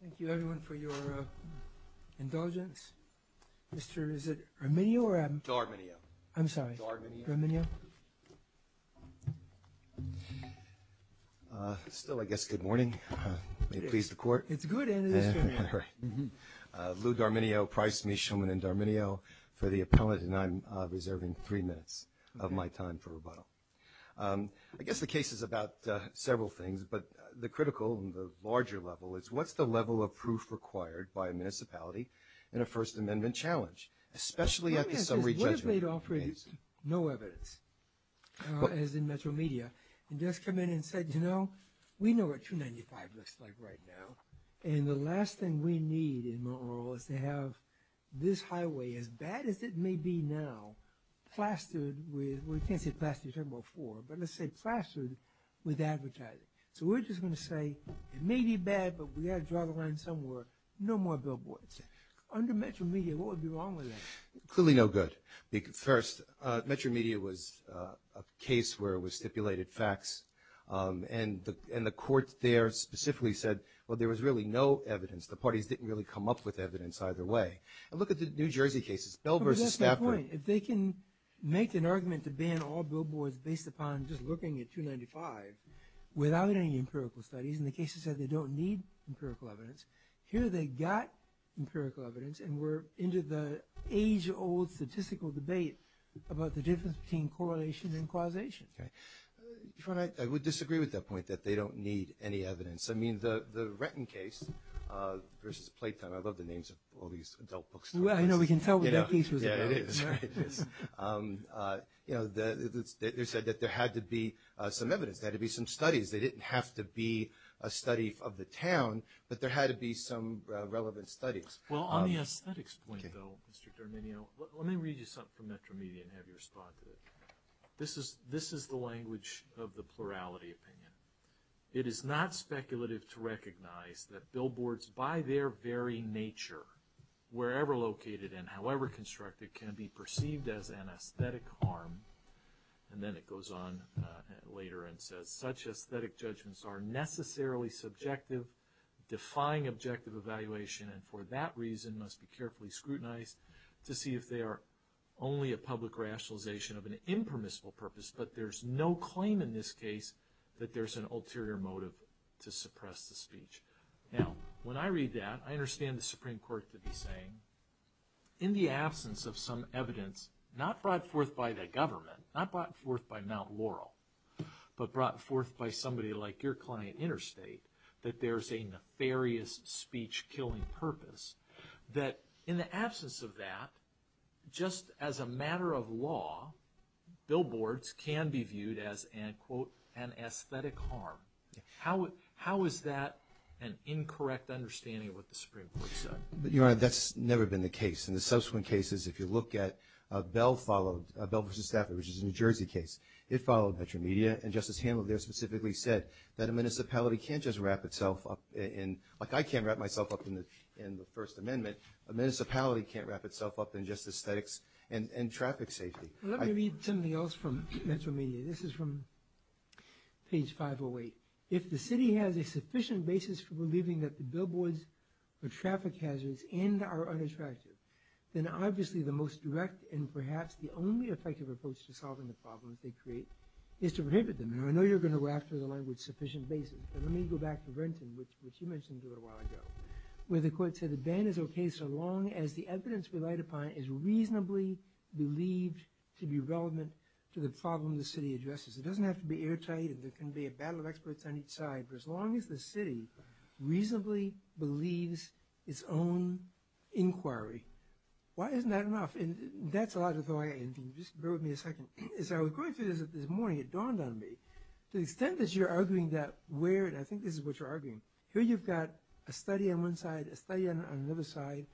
Thank you everyone for your indulgence. Mr. is it D'Arminio? D'Arminio. I'm sorry, D'Arminio. Still, I guess, good morning. May it please the Court. It's good and it is good morning. Lou D'Arminio, Price, Mishelman, and D'Arminio for the appellate, and I'm reserving three minutes of my time for rebuttal. I guess the case is about several things, but the critical and the larger level is what's the level of proof required by a municipality in a First Amendment challenge, especially at the summary judgment phase? What if they'd offered no evidence, as in Metro Media, and just come in and said, you know, we know what 295 looks like right now, and the last thing we need in Mount Laurel is to have this highway, so we're just going to say it may be bad, but we've got to draw the line somewhere. No more billboards. Under Metro Media, what would be wrong with that? Clearly no good. First, Metro Media was a case where it was stipulated facts, and the court there specifically said, well, there was really no evidence. The parties didn't really come up with evidence either way. And look at the New Jersey cases. If they can make an argument to ban all billboards based upon just looking at 295 without any empirical studies, and the cases said they don't need empirical evidence, here they got empirical evidence and were into the age-old statistical debate about the difference between correlation and causation. I would disagree with that point, that they don't need any evidence. I mean, the Retton case versus Playton, I love the names of all these adult books. Well, I know, we can tell what that case was about. Yeah, it is. You know, they said that there had to be some evidence, there had to be some studies. They didn't have to be a study of the town, but there had to be some relevant studies. Well, on the aesthetics point, though, Mr. D'Arminio, let me read you something from Metro Media and have you respond to it. This is the language of the plurality opinion. It is not speculative to recognize that billboards, by their very nature, wherever located and however constructed, can be perceived as an aesthetic harm. And then it goes on later and says, such aesthetic judgments are necessarily subjective, defying objective evaluation, and for that reason must be carefully scrutinized to see if they are only a public rationalization of an impermissible purpose, but there's no claim in this case that there's an ulterior motive to suppress the speech. Now, when I read that, I understand the Supreme Court to be saying, in the absence of some evidence, not brought forth by the government, not brought forth by Mount Laurel, but brought forth by somebody like your client Interstate, that there's a nefarious speech-killing purpose, that in the absence of that, just as a matter of law, billboards can be viewed as an, quote, an aesthetic harm. How is that an incorrect understanding of what the Supreme Court said? Your Honor, that's never been the case. In the subsequent cases, if you look at Bell followed, Bell v. Stafford, which is a New Jersey case, it followed Metro Media, and Justice Hanlon there specifically said that a municipality can't just wrap itself up in, like I can't wrap myself up in the First Amendment, a municipality can't wrap itself up in just aesthetics and traffic safety. Let me read something else from Metro Media. This is from page 508. If the city has a sufficient basis for believing that the billboards are traffic hazards and are unattractive, then obviously the most direct and perhaps the only effective approach to solving the problems they create is to prohibit them. Now, I know you're going to go after the language sufficient basis, but let me go back to Brenton, which you mentioned a little while ago, where the court said the ban is okay so long as the evidence relied upon is reasonably believed to be relevant to the problem the city addresses. It doesn't have to be airtight and there can be a battle of experts on each side, but as long as the city reasonably believes its own inquiry, why isn't that enough? And that's a lot of thought, and just bear with me a second. As I was going through this this morning, it dawned on me, to the extent that you're arguing that where, and I think this is what you're arguing, here you've got a study on one side, a study on another side,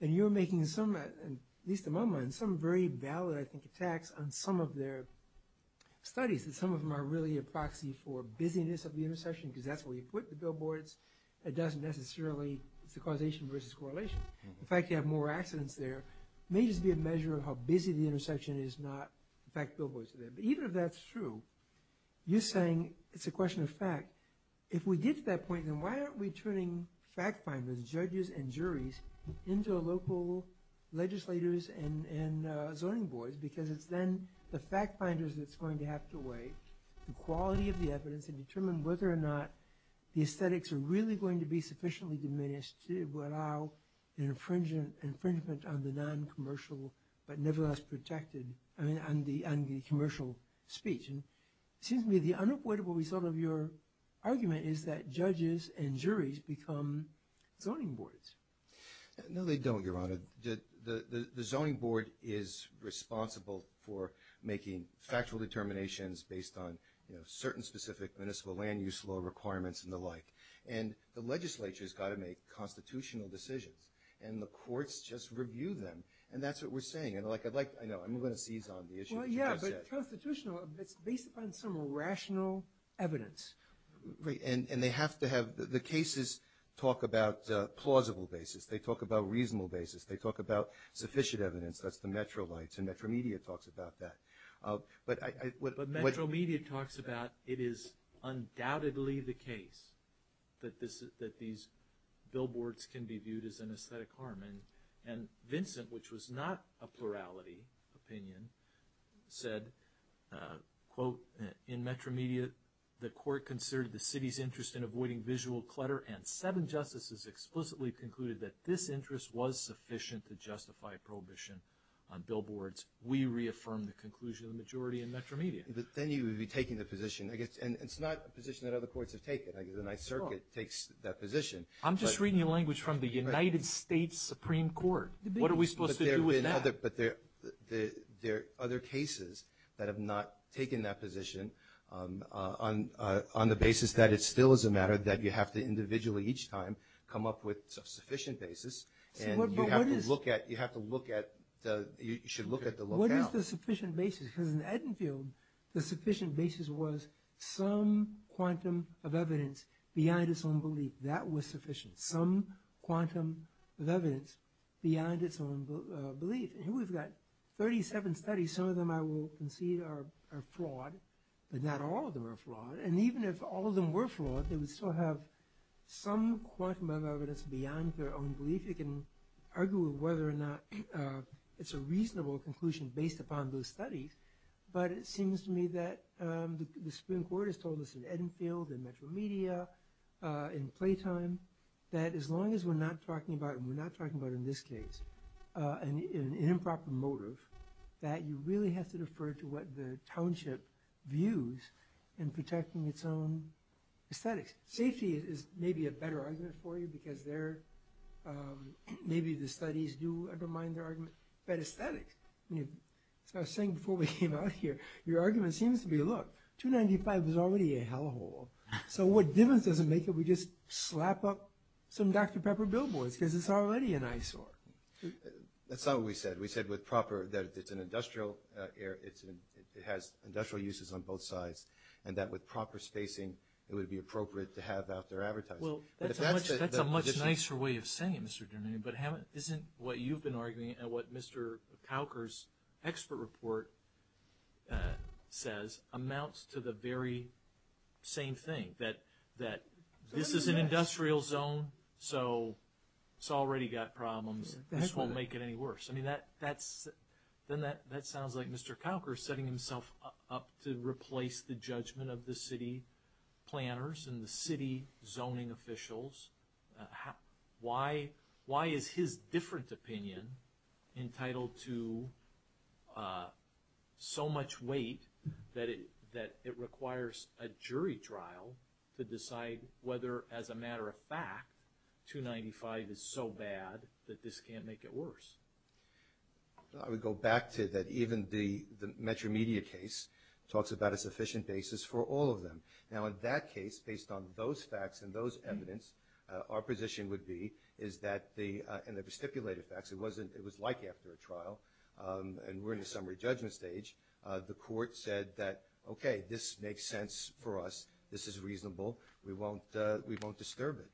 and you're making some, at least in my mind, some very valid, I think, attacks on some of their studies. Some of them are really a proxy for busyness of the intersection because that's where you put the billboards. It doesn't necessarily, it's a causation versus correlation. In fact, you have more accidents there. It may just be a measure of how busy the intersection is, not the fact that billboards are there. But even if that's true, you're saying it's a question of fact. If we get to that point, then why aren't we turning fact-finders, judges and juries, into local legislators and zoning boards? Because it's then the fact-finders that's going to have to weigh the quality of the evidence and determine whether or not the aesthetics are really going to be sufficiently diminished to allow an infringement on the non-commercial, but nevertheless protected, I mean, on the commercial speech. It seems to me the unavoidable result of your argument is that judges and juries become zoning boards. No, they don't, Your Honor. The zoning board is responsible for making factual determinations based on certain specific municipal land-use law requirements and the like. And the legislature's got to make constitutional decisions, and the courts just review them. And that's what we're saying. I'm going to seize on the issue that you just said. Well, yeah, but constitutional, it's based upon some rational evidence. And they have to have the cases talk about plausible basis. They talk about reasonable basis. They talk about sufficient evidence. That's the Metro Lights, and Metro Media talks about that. But Metro Media talks about it is undoubtedly the case that these billboards can be viewed as an aesthetic harm. And Vincent, which was not a plurality opinion, said, quote, in Metro Media, the court considered the city's interest in avoiding visual clutter, and seven justices explicitly concluded that this interest was sufficient to justify prohibition on billboards. We reaffirmed the conclusion of the majority in Metro Media. Then you would be taking the position, I guess, and it's not a position that other courts have taken. I guess the Ninth Circuit takes that position. I'm just reading the language from the United States Supreme Court. What are we supposed to do with that? But there are other cases that have not taken that position on the basis that it still is a matter that you have to individually each time come up with a sufficient basis, and you have to look at, you should look at the lookout. What is the sufficient basis? Because in Edenfield, the sufficient basis was some quantum of evidence beyond its own belief. That was sufficient, some quantum of evidence beyond its own belief. And here we've got 37 studies. Some of them I will concede are flawed, but not all of them are flawed. And even if all of them were flawed, they would still have some quantum of evidence beyond their own belief. You can argue whether or not it's a reasonable conclusion based upon those studies, but it seems to me that the Supreme Court has told us in Edenfield, in Metro Media, in Playtime, that as long as we're not talking about, and we're not talking about in this case, an improper motive, that you really have to defer to what the township views in protecting its own aesthetics. Safety is maybe a better argument for you, because maybe the studies do undermine their argument. But aesthetics, as I was saying before we came out here, your argument seems to be, look, 295 is already a hellhole. So what difference does it make if we just slap up some Dr. Pepper billboards, because it's already an eyesore. That's not what we said. We said with proper, that it's an industrial, it has industrial uses on both sides, and that with proper spacing, it would be appropriate to have out there advertising. Well, that's a much nicer way of saying it, Mr. Dermine, but isn't what you've been arguing, and what Mr. Cowker's expert report says, amounts to the very same thing, that this is an industrial zone, so it's already got problems. This won't make it any worse. Then that sounds like Mr. Cowker is setting himself up to replace the judgment of the city planners and the city zoning officials. Why is his different opinion entitled to so much weight that it requires a jury trial to decide whether, as a matter of fact, 295 is so bad that this can't make it worse? I would go back to that even the Metro Media case talks about a sufficient basis for all of them. Now, in that case, based on those facts and those evidence, our position would be, in the stipulated facts, it was like after a trial, and we're in the summary judgment stage, the court said that, okay, this makes sense for us, this is reasonable, we won't disturb it.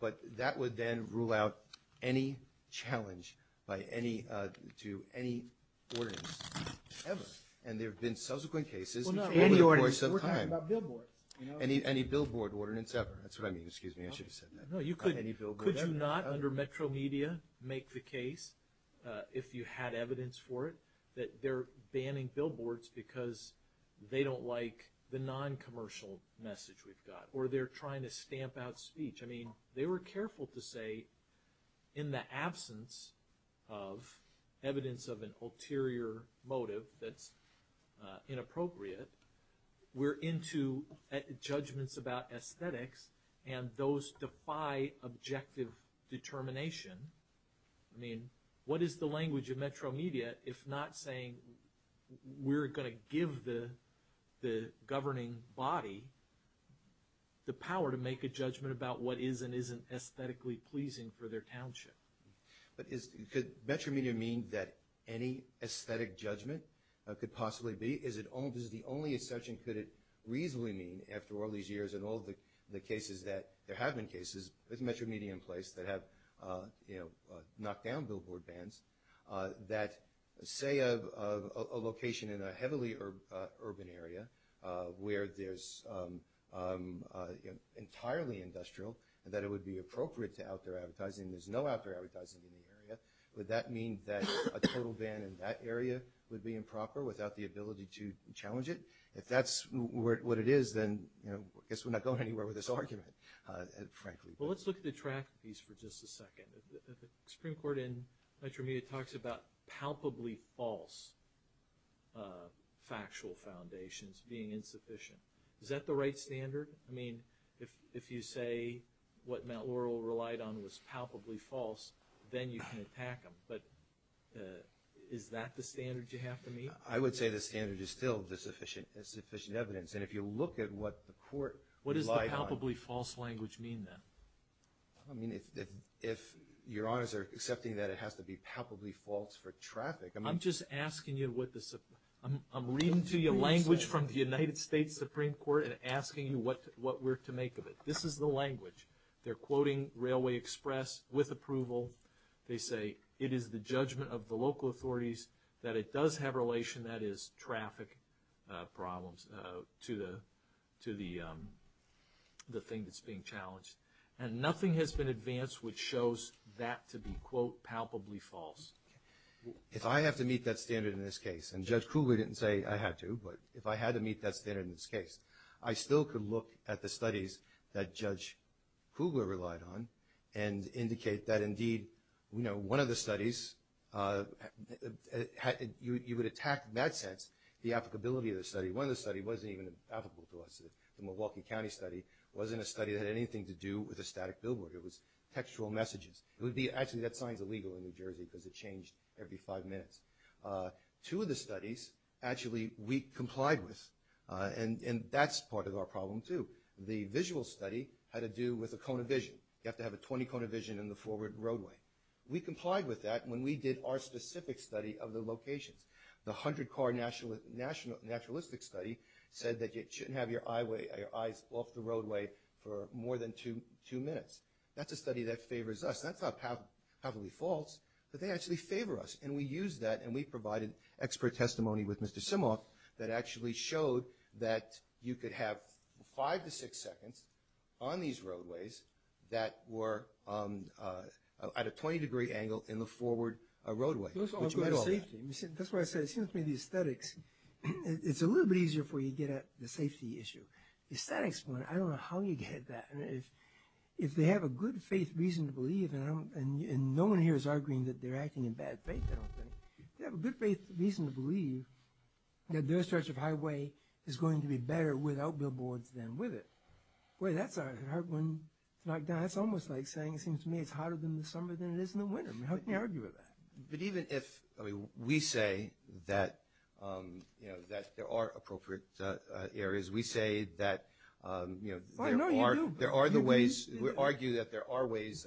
But that would then rule out any challenge to any ordinance ever. And there have been subsequent cases over the course of time. What about billboards? Any billboard ordinance ever. That's what I mean. Excuse me, I should have said that. Could you not, under Metro Media, make the case, if you had evidence for it, that they're banning billboards because they don't like the non-commercial message we've got, or they're trying to stamp out speech? I mean, they were careful to say, in the absence of evidence of an ulterior motive that's inappropriate, we're into judgments about aesthetics, and those defy objective determination. I mean, what is the language of Metro Media if not saying, we're going to give the governing body the power to make a judgment about what is and isn't aesthetically pleasing for their township? But could Metro Media mean that any aesthetic judgment could possibly be? This is the only assumption could it reasonably mean, after all these years and all the cases that there have been cases, with Metro Media in place, that have knocked down billboard bans, that, say, a location in a heavily urban area where there's entirely industrial, that it would be appropriate to out there advertising, and there's no out there advertising in the area, would that mean that a total ban in that area would be improper without the ability to challenge it? If that's what it is, then I guess we're not going anywhere with this argument, frankly. Well, let's look at the track piece for just a second. The Supreme Court in Metro Media talks about palpably false factual foundations being insufficient. Is that the right standard? I mean, if you say what Mount Laurel relied on was palpably false, then you can attack them, but is that the standard you have to meet? I would say the standard is still insufficient evidence, and if you look at what the court relied on— What does the palpably false language mean, then? I mean, if your honors are accepting that it has to be palpably false for traffic— I'm just asking you what the— I'm reading to you language from the United States Supreme Court and asking you what we're to make of it. This is the language. They're quoting Railway Express with approval. They say it is the judgment of the local authorities that it does have relation, that is, traffic problems, to the thing that's being challenged. And nothing has been advanced which shows that to be, quote, palpably false. If I have to meet that standard in this case, and Judge Kugler didn't say I had to, but if I had to meet that standard in this case, I still could look at the studies that Judge Kugler relied on and indicate that, indeed, one of the studies— you would attack, in that sense, the applicability of the study. One of the studies wasn't even applicable to us. The Milwaukee County study wasn't a study that had anything to do with a static billboard. It was textual messages. It would be—actually, that sign's illegal in New Jersey because it changed every five minutes. Two of the studies actually we complied with, and that's part of our problem, too. The visual study had to do with a cone of vision. You have to have a 20-cone of vision in the forward roadway. We complied with that when we did our specific study of the locations. The 100-car naturalistic study said that you shouldn't have your eyes off the roadway for more than two minutes. That's a study that favors us. That's not palpably false, but they actually favor us, and we used that, and we provided expert testimony with Mr. Simok that actually showed that you could have five to six seconds on these roadways that were at a 20-degree angle in the forward roadway, which meant all that. That's why I said, it seems to me the aesthetics, it's a little bit easier for you to get at the safety issue. The aesthetics, I don't know how you get at that. If they have a good-faith reason to believe, and no one here is arguing that they're acting in bad faith, I don't think, they have a good-faith reason to believe that their stretch of highway is going to be better without billboards than with it. Boy, that's a hard one to knock down. That's almost like saying, it seems to me, it's hotter in the summer than it is in the winter. How can you argue with that? But even if we say that there are appropriate areas, we say that there are the ways, we argue that there are ways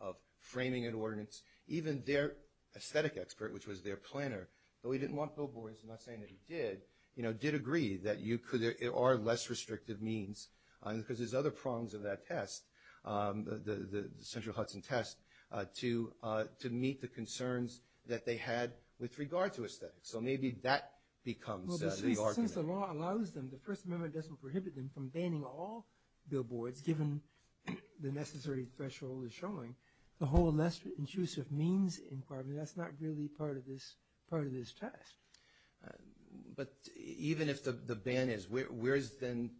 of framing an ordinance. Even their aesthetic expert, which was their planner, though he didn't want billboards, I'm not saying that he did, did agree that there are less restrictive means, because there's other prongs of that test, the central Hudson test, to meet the concerns that they had with regard to aesthetics. So maybe that becomes the argument. Well, since the law allows them, the First Amendment doesn't prohibit them from banning all billboards, given the necessary threshold is showing, the whole less intrusive means inquiry, that's not really part of this test. But even if the ban is, where is then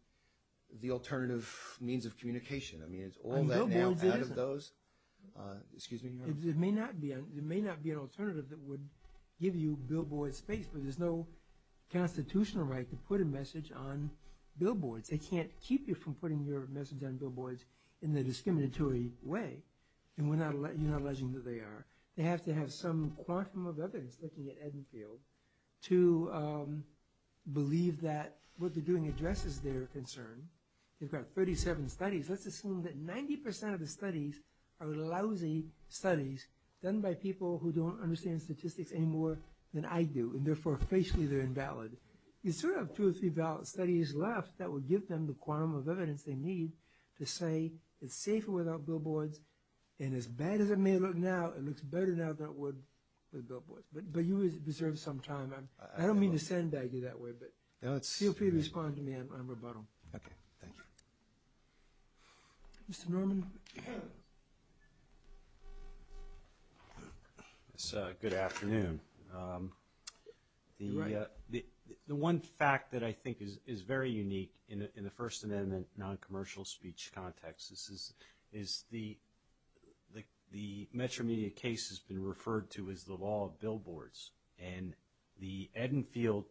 the alternative means of communication? I mean, is all that now out of those? Excuse me. It may not be an alternative that would give you billboard space, but there's no constitutional right to put a message on billboards. They can't keep you from putting your message on billboards in the discriminatory way, and you're not alleging that they are. They have to have some quantum of evidence, looking at Edenfield, to believe that what they're doing addresses their concern. They've got 37 studies. Let's assume that 90% of the studies are lousy studies done by people who don't understand statistics any more than I do, and therefore, facially, they're invalid. You still have two or three valid studies left that would give them the quantum of evidence they need to say it's safer without billboards, and as bad as it may look now, it looks better now than it would with billboards. But you deserve some time. I don't mean to sandbag you that way, but feel free to respond to me on rebuttal. Okay. Thank you. Mr. Norman? Good afternoon. The one fact that I think is very unique in the First Amendment noncommercial speech context is the Metromedia case has been referred to as the law of billboards, and the Edenfield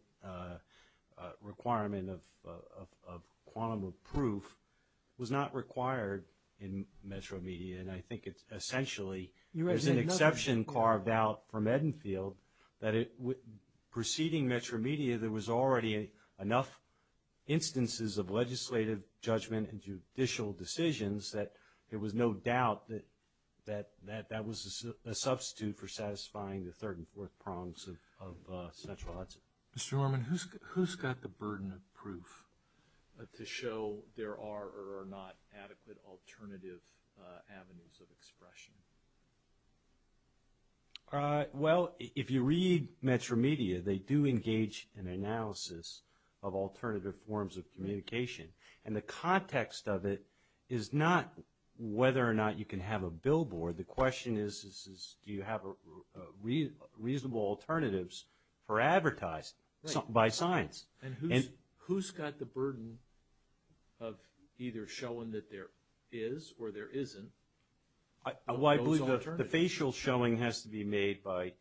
requirement of quantum of proof was not required in Metromedia, and I think it's essentially, there's an exception carved out from Edenfield that preceding Metromedia, there was already enough instances of legislative judgment and judicial decisions that there was no doubt that that was a substitute for satisfying the third and fourth prongs of central odds. Mr. Norman, who's got the burden of proof to show there are or are not adequate alternative avenues of expression? Well, if you read Metromedia, they do engage in analysis of alternative forms of communication, and the context of it is not whether or not you can have a billboard. The question is, do you have reasonable alternatives for advertising by science? And who's got the burden of either showing that there is or there isn't those alternatives? Well, I believe the facial showing has to be made by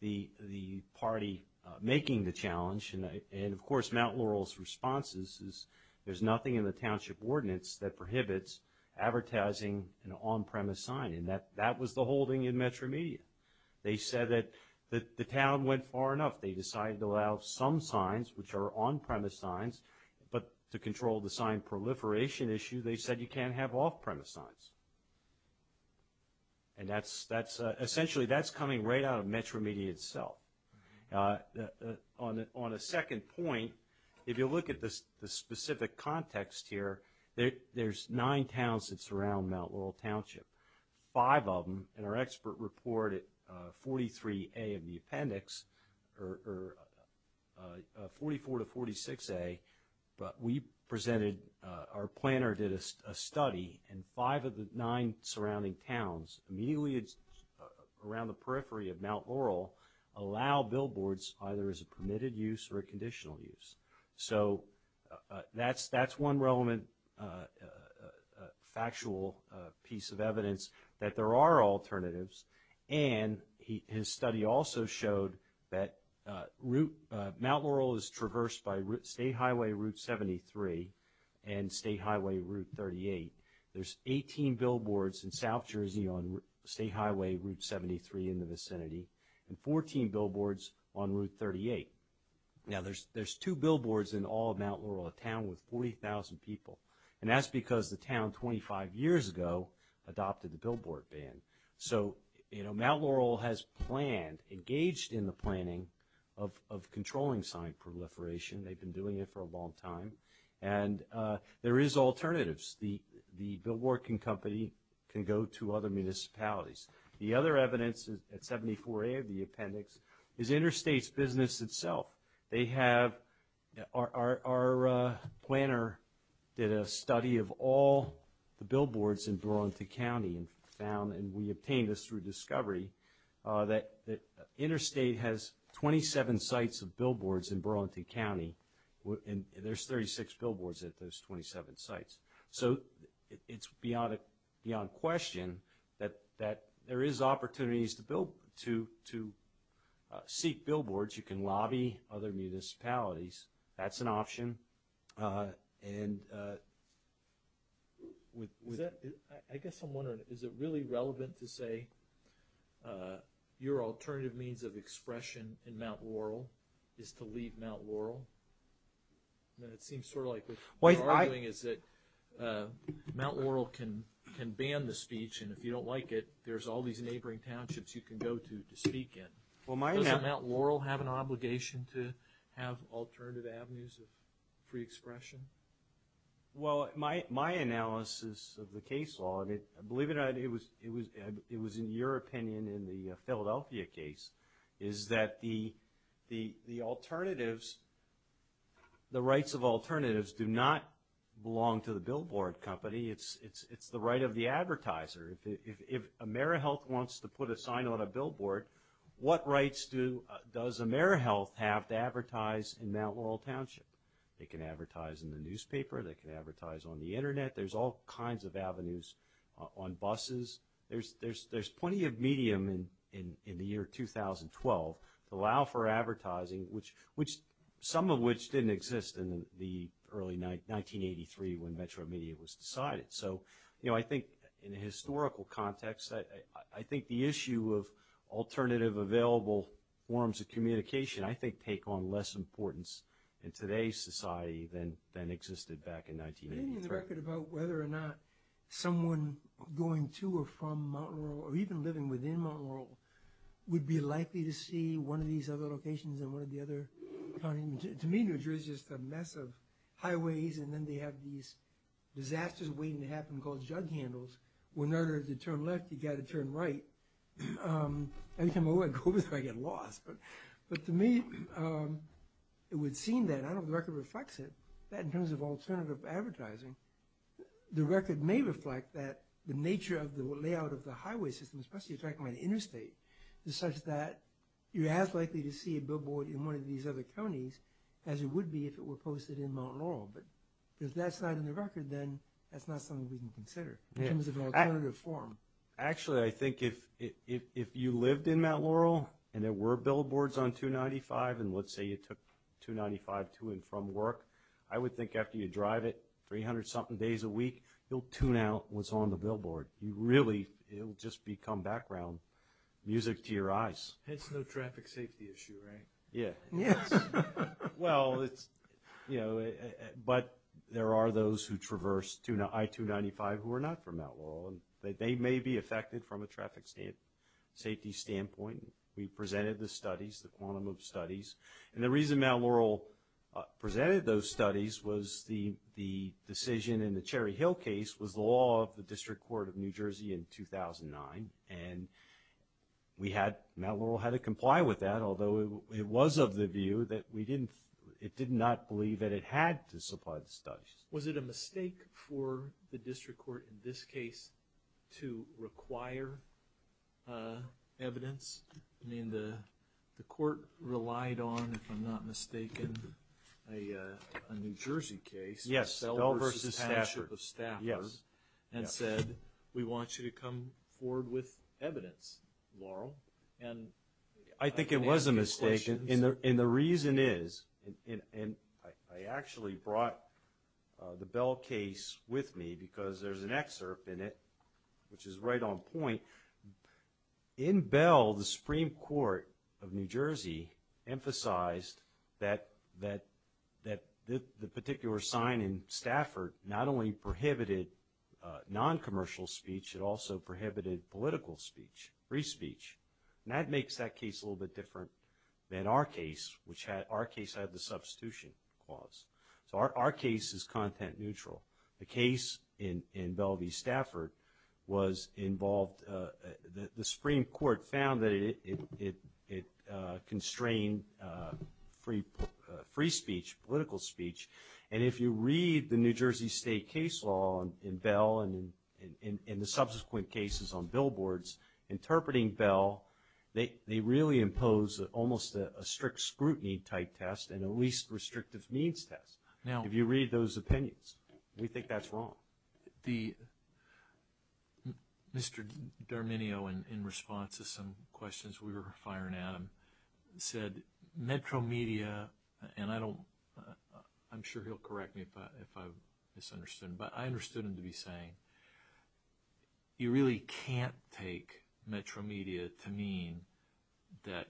the party making the challenge, and of course, Mount Laurel's response is, there's nothing in the township ordinance that prohibits advertising an on-premise sign, and that was the holding in Metromedia. They said that the town went far enough. They decided to allow some signs, which are on-premise signs, but to control the sign proliferation issue, they said you can't have off-premise signs. And essentially, that's coming right out of Metromedia itself. On a second point, if you look at the specific context here, there's nine towns that surround Mount Laurel Township. Five of them, and our expert report at 43A of the appendix, or 44 to 46A, but we presented, our planner did a study, and five of the nine surrounding towns, immediately around the periphery of Mount Laurel, allow billboards either as a permitted use or a conditional use. So that's one relevant factual piece of evidence, that there are alternatives, and his study also showed that Mount Laurel is traversed by State Highway Route 73 and State Highway Route 38. There's 18 billboards in South Jersey on State Highway Route 73 in the vicinity, and 14 billboards on Route 38. Now, there's two billboards in all of Mount Laurel, a town with 40,000 people, and that's because the town 25 years ago adopted the billboard ban. So, you know, Mount Laurel has planned, engaged in the planning of controlling sign proliferation. They've been doing it for a long time, and there is alternatives. The billboard company can go to other municipalities. The other evidence at 74A of the appendix is Interstate's business itself. They have... Our planner did a study of all the billboards in Burlington County and found, and we obtained this through discovery, that Interstate has 27 sites of billboards in Burlington County, and there's 36 billboards at those 27 sites. So it's beyond question that there is opportunities to seek billboards. You can lobby other municipalities. That's an option. And with... I guess I'm wondering, is it really relevant to say your alternative means of expression in Mount Laurel is to leave Mount Laurel? It seems sort of like what you're arguing is that Mount Laurel can ban the speech, and if you don't like it, there's all these neighboring townships you can go to to speak in. Doesn't Mount Laurel have an obligation to have alternative avenues of free expression? Well, my analysis of the case law, and believe it or not, it was in your opinion in the Philadelphia case, is that the alternatives, the rights of alternatives, do not belong to the billboard company. It's the right of the advertiser. If AmeriHealth wants to put a sign on a billboard, what rights does AmeriHealth have to advertise in Mount Laurel Township? They can advertise in the newspaper. They can advertise on the Internet. There's all kinds of avenues on buses. There's plenty of medium in the year 2012 to allow for advertising, some of which didn't exist in the early 1983 when Metro Media was decided. So I think in a historical context, I think the issue of alternative available forms of communication, I think take on less importance in today's society than existed back in 1983. Do you have any record about whether or not someone going to or from Mount Laurel, or even living within Mount Laurel, would be likely to see one of these other locations than one of the other? To me, New Jersey is just a mess of highways, and then they have these disasters waiting to happen called jug handles. In order to turn left, you've got to turn right. Every time I go over there, I get lost. But to me, it would seem that, I don't know if the record reflects it, that in terms of alternative advertising, the record may reflect that the nature of the layout of the highway system, especially if you're talking about interstate, is such that you're as likely to see a billboard in one of these other counties as it would be if it were posted in Mount Laurel. But if that's not in the record, then that's not something we can consider in terms of an alternative form. Actually, I think if you lived in Mount Laurel, and there were billboards on 295, and let's say you took 295 to and from work, I would think after you drive it 300-something days a week, you'll tune out what's on the billboard. You really, it'll just become background music to your eyes. It's no traffic safety issue, right? Yeah. Yes. Well, it's, you know, but there are those who traverse I-295 who are not from Mount Laurel. They may be affected from a traffic safety standpoint. We presented the studies, the quantum of studies. And the reason Mount Laurel presented those studies was the decision in the Cherry Hill case was the law of the District Court of New Jersey in 2009. And we had, Mount Laurel had to comply with that, although it was of the view that we didn't, it did not believe that it had to supply the studies. Was it a mistake for the District Court in this case to require evidence? I mean, the court relied on, if I'm not mistaken, a New Jersey case. Yes, Bell v. Stafford. Yes. And said, we want you to come forward with evidence, Laurel. I think it was a mistake, and the reason is, and I actually brought the Bell case with me because there's an excerpt in it which is right on point. In Bell, the Supreme Court of New Jersey emphasized that the particular sign in Stafford not only prohibited non-commercial speech, it also prohibited political speech, free speech. And that makes that case a little bit different than our case, which our case had the substitution clause. So our case is content neutral. The case in Bell v. Stafford was involved, the Supreme Court found that it constrained free speech, political speech. And if you read the New Jersey State case law in Bell and in the subsequent cases on billboards, interpreting Bell, they really impose almost a strict scrutiny type test and a least restrictive means test. If you read those opinions, we think that's wrong. Mr. D'Arminio, in response to some questions we were firing at him, said Metro Media, and I'm sure he'll correct me if I've misunderstood him, but I understood him to be saying you really can't take Metro Media to mean that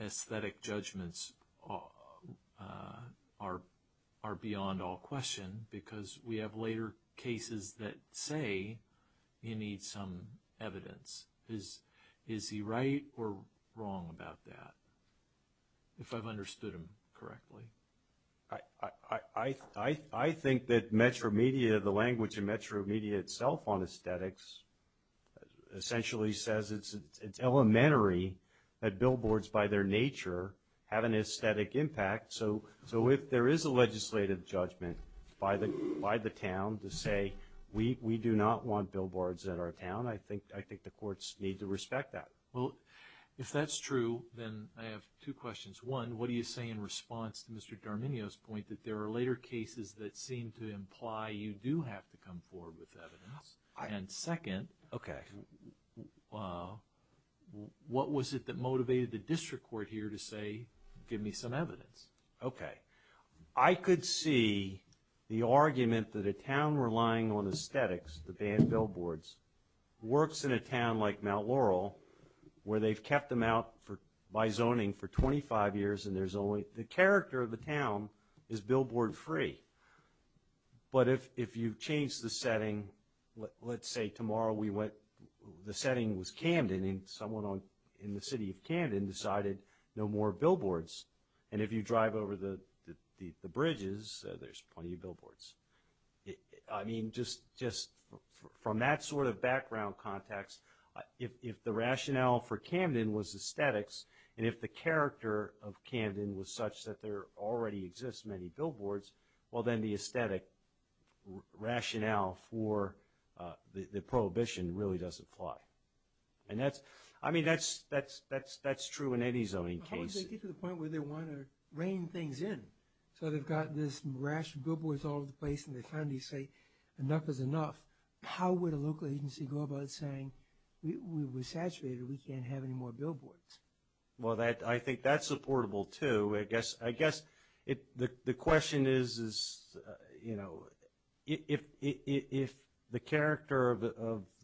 aesthetic judgments are beyond all question because we have later cases that say you need some evidence. Is he right or wrong about that, if I've understood him correctly? I think that Metro Media, the language in Metro Media itself on aesthetics essentially says it's elementary that billboards by their nature have an aesthetic impact. So if there is a legislative judgment by the town to say we do not want billboards in our town, I think the courts need to respect that. If that's true, then I have two questions. One, what do you say in response to Mr. D'Arminio's point that there are later cases that seem to imply you do have to come forward with evidence? And second, what was it that motivated the district court here to say give me some evidence? I could see the argument that a town relying on aesthetics, the banned billboards, works in a town like Mount Laurel where they've kept them out by zoning for 25 years and there's only, the character of the town is billboard free. But if you change the setting, let's say tomorrow we went, the setting was Camden and someone in the city of Camden decided no more billboards. And if you drive over the bridges, there's plenty of billboards. I mean, just from that sort of background context, if the rationale for Camden was aesthetics and if the character of Camden was such that there already exists many billboards, well then the aesthetic rationale for the prohibition really doesn't fly. And that's, I mean, that's true in any zoning case. How would they get to the point where they want to rein things in? So they've got this rash of billboards all over the place and they finally say enough is enough. How would a local agency go about saying we're saturated, we can't have any more billboards? Well, I think that's supportable too. I guess the question is, you know, if the character of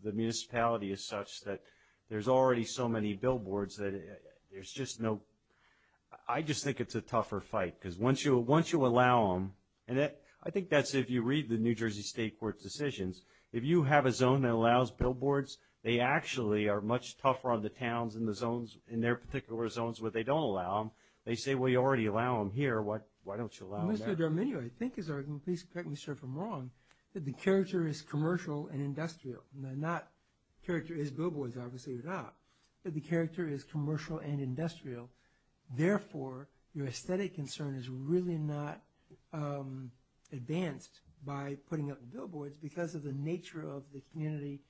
the municipality is such that there's already so many billboards that there's just no, I just think it's a tougher fight because once you allow them, and I think that's if you read the New Jersey State Court's decisions, if you have a zone that allows billboards, they actually are much tougher on the towns in their particular zones where they don't allow them. They say, well, you already allow them here. Why don't you allow them there? Mr. D'Arminio, I think, and please correct me if I'm wrong, that the character is commercial and industrial. The character is billboards, obviously, or not. But the character is commercial and industrial. Therefore, your aesthetic concern is really not advanced by putting up billboards because of the nature of the community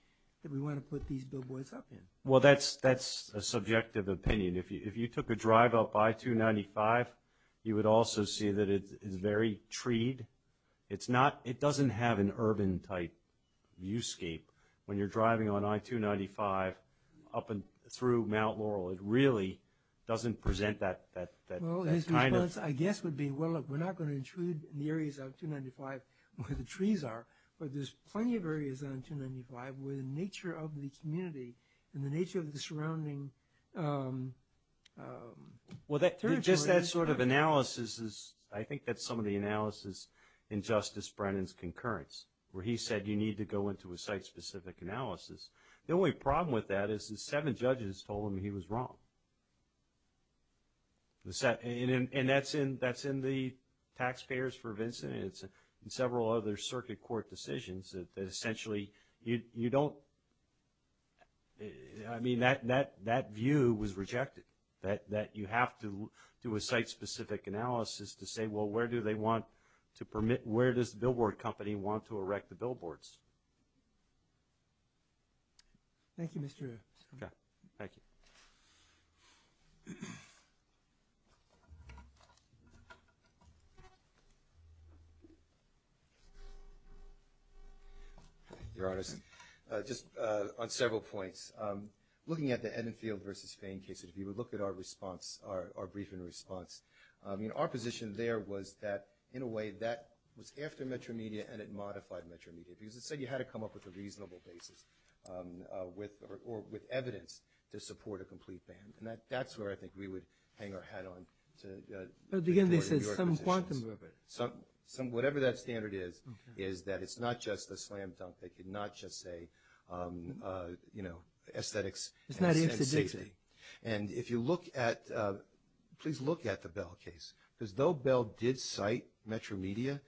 that we want to put these billboards up in. Well, that's a subjective opinion. If you took a drive up I-295, you would also see that it is very treed. It doesn't have an urban-type viewscape. When you're driving on I-295 up through Mount Laurel, it really doesn't present that kind of – Well, his response, I guess, would be, well, look, we're not going to intrude in the areas of I-295 where the trees are, but there's plenty of areas on I-295 where the nature of the community and the nature of the surrounding territory – Well, just that sort of analysis is – I think that's some of the analysis in Justice Brennan's concurrence where he said you need to go into a site-specific analysis. The only problem with that is the seven judges told him he was wrong. And that's in the taxpayers for Vincent and several other circuit court decisions that essentially you don't – I mean, that view was rejected, that you have to do a site-specific analysis to say, well, where do they want to permit – where does the billboard company want to erect the billboards? Thank you, Mr. – Okay, thank you. Your Honor, just on several points, looking at the Edenfield v. Fain case, if you would look at our response, our briefing response, I mean, our position there was that in a way that was after Metro Media and it modified Metro Media because it said you had to come up with a reasonable basis or with evidence to support a complete ban. And that's where I think we would hang our hat on to – But at the end they said some quantum – Whatever that standard is, is that it's not just a slam dunk. They could not just say, you know, aesthetics and safety. And if you look at – please look at the Bell case, because though Bell did cite Metro Media,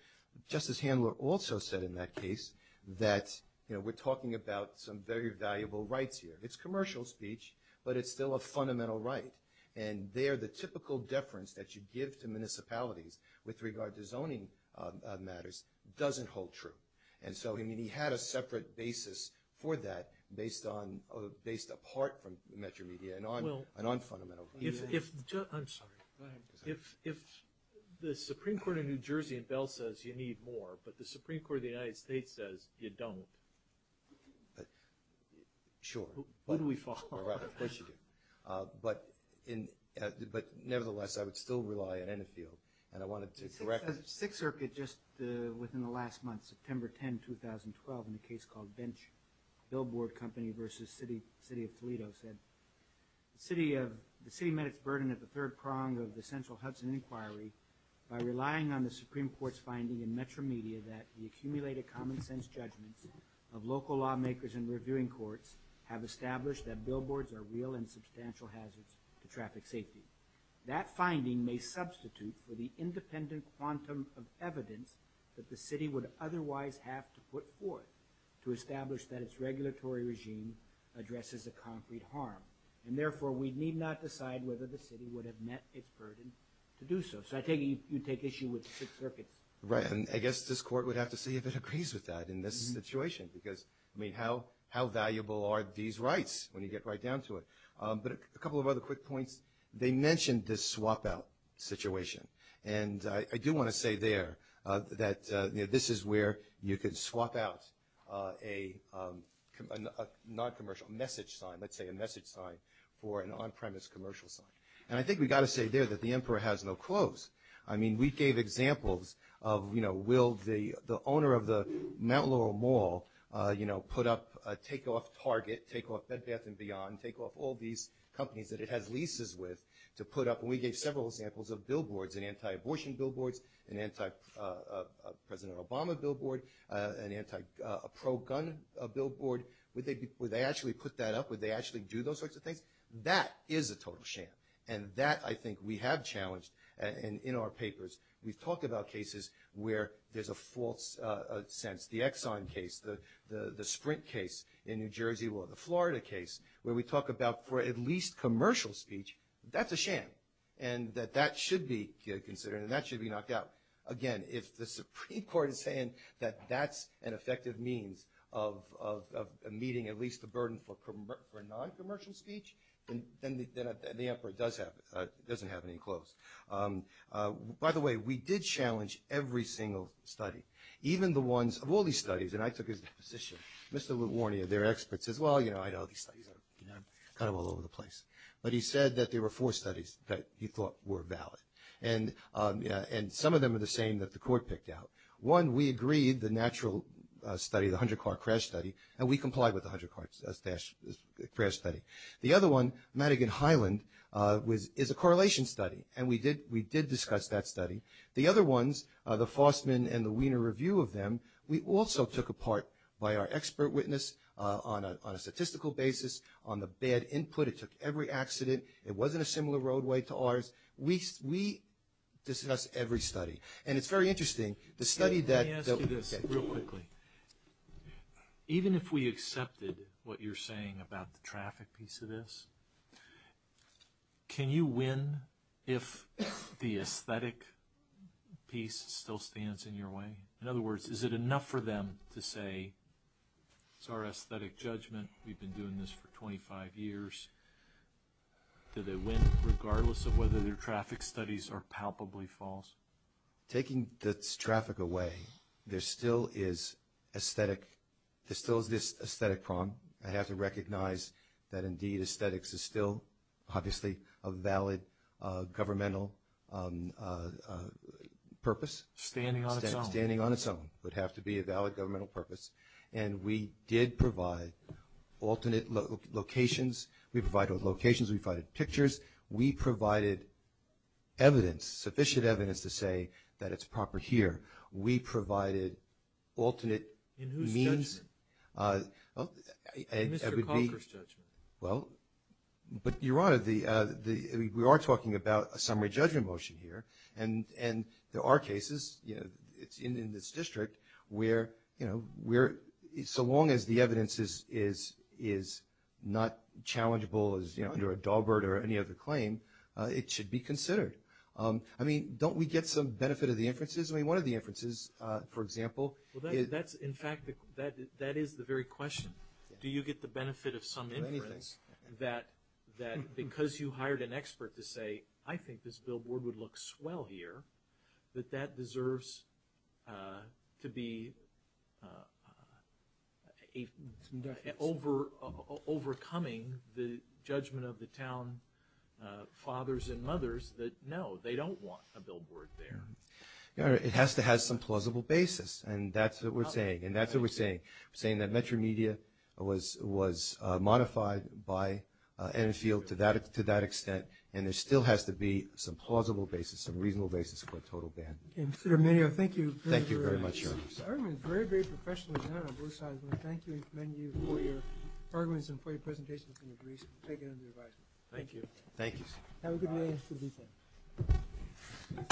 Justice Handler also said in that case that, you know, we're talking about some very valuable rights here. It's commercial speech, but it's still a fundamental right, and there the typical deference that you give to municipalities with regard to zoning matters doesn't hold true. And so, I mean, he had a separate basis for that based on – Well – And on fundamental – If – I'm sorry. Go ahead. If the Supreme Court of New Jersey in Bell says you need more, but the Supreme Court of the United States says you don't – Sure. Would we fall? Of course you do. But nevertheless, I would still rely on Ennefield, and I wanted to – Sixth Circuit just within the last month, September 10, 2012, in a case called Bench, Billboard Company versus City of Toledo, said the city of – the city met its burden at the third prong of the central Hudson inquiry by relying on the Supreme Court's finding in Metro Media that the accumulated common-sense judgments of local lawmakers and reviewing courts have established that billboards are real and substantial hazards to traffic safety. That finding may substitute for the independent quantum of evidence that the city would otherwise have to put forth to establish that its regulatory regime addresses a concrete harm. And therefore, we need not decide whether the city would have met its burden to do so. So I take it you'd take issue with the Sixth Circuit's – Right, and I guess this court would have to see if it agrees with that in this situation, because, I mean, how valuable are these rights when you get right down to it? But a couple of other quick points. They mentioned this swap-out situation, and I do want to say there that this is where you could swap out a non-commercial message sign, let's say a message sign, for an on-premise commercial sign. And I think we've got to say there that the emperor has no clothes. I mean, we gave examples of, you know, will the owner of the Mount Laurel Mall, you know, put up – take off Target, take off Bed Bath & Beyond, take off all these companies that it has leases with to put up – and we gave several examples of billboards and anti-abortion billboards and anti-President Obama billboard, an anti-pro-gun billboard. Would they actually put that up? Would they actually do those sorts of things? That is a total sham, and that I think we have challenged in our papers. We've talked about cases where there's a false sense, the Exxon case, the Sprint case in New Jersey, or the Florida case, where we talk about for at least commercial speech, that's a sham, and that that should be considered and that should be knocked out. Again, if the Supreme Court is saying that that's an effective means of meeting at least the burden for non-commercial speech, then the emperor doesn't have any clothes. By the way, we did challenge every single study, even the ones – of all these studies, and I took his position, Mr. Lewornia, their expert, says, well, you know, I know these studies are kind of all over the place. But he said that there were four studies that he thought were valid, and some of them are the same that the court picked out. One, we agreed, the natural study, the 100-car crash study, and we complied with the 100-car crash study. The other one, Madigan Highland, is a correlation study, and we did discuss that study. The other ones, the Fostman and the Wiener review of them, we also took apart by our expert witness on a statistical basis, on the bad input. It took every accident. It wasn't a similar roadway to ours. We discussed every study. And it's very interesting, the study that – Let me ask you this real quickly. Even if we accepted what you're saying about the traffic piece of this, can you win if the aesthetic piece still stands in your way? In other words, is it enough for them to say, it's our aesthetic judgment, we've been doing this for 25 years, that they win regardless of whether their traffic studies are palpably false? Taking the traffic away, there still is aesthetic – there still is this aesthetic problem. I have to recognize that, indeed, aesthetics is still, obviously, a valid governmental purpose. Standing on its own. Standing on its own. It would have to be a valid governmental purpose. And we did provide alternate locations. We provided locations. We provided pictures. We provided evidence, sufficient evidence to say that it's proper here. We provided alternate means. In whose judgment? In Mr. Conker's judgment. Well, but, Your Honor, we are talking about a summary judgment motion here. And there are cases in this district where, you know, so long as the evidence is not challengeable as, you know, under a Daubert or any other claim, it should be considered. I mean, don't we get some benefit of the inferences? I mean, one of the inferences, for example – Well, that's, in fact, that is the very question. Do you get the benefit of some inference that because you hired an expert to say, I think this billboard would look swell here, that that deserves to be overcoming the judgment of the town fathers and mothers that, no, they don't want a billboard there? Your Honor, it has to have some plausible basis. And that's what we're saying. And that's what we're saying. We're saying that Metro Media was modified by Enfield to that extent, and there still has to be some plausible basis, some reasonable basis for a total ban. Okay, Mr. Domenio, thank you. Thank you very much, Your Honor. Your argument is very, very professionally done on both sides. I want to thank you and commend you for your arguments and for your presentations and your briefs. We'll take it under advisement. Thank you. Thank you. Have a good day and a good weekend.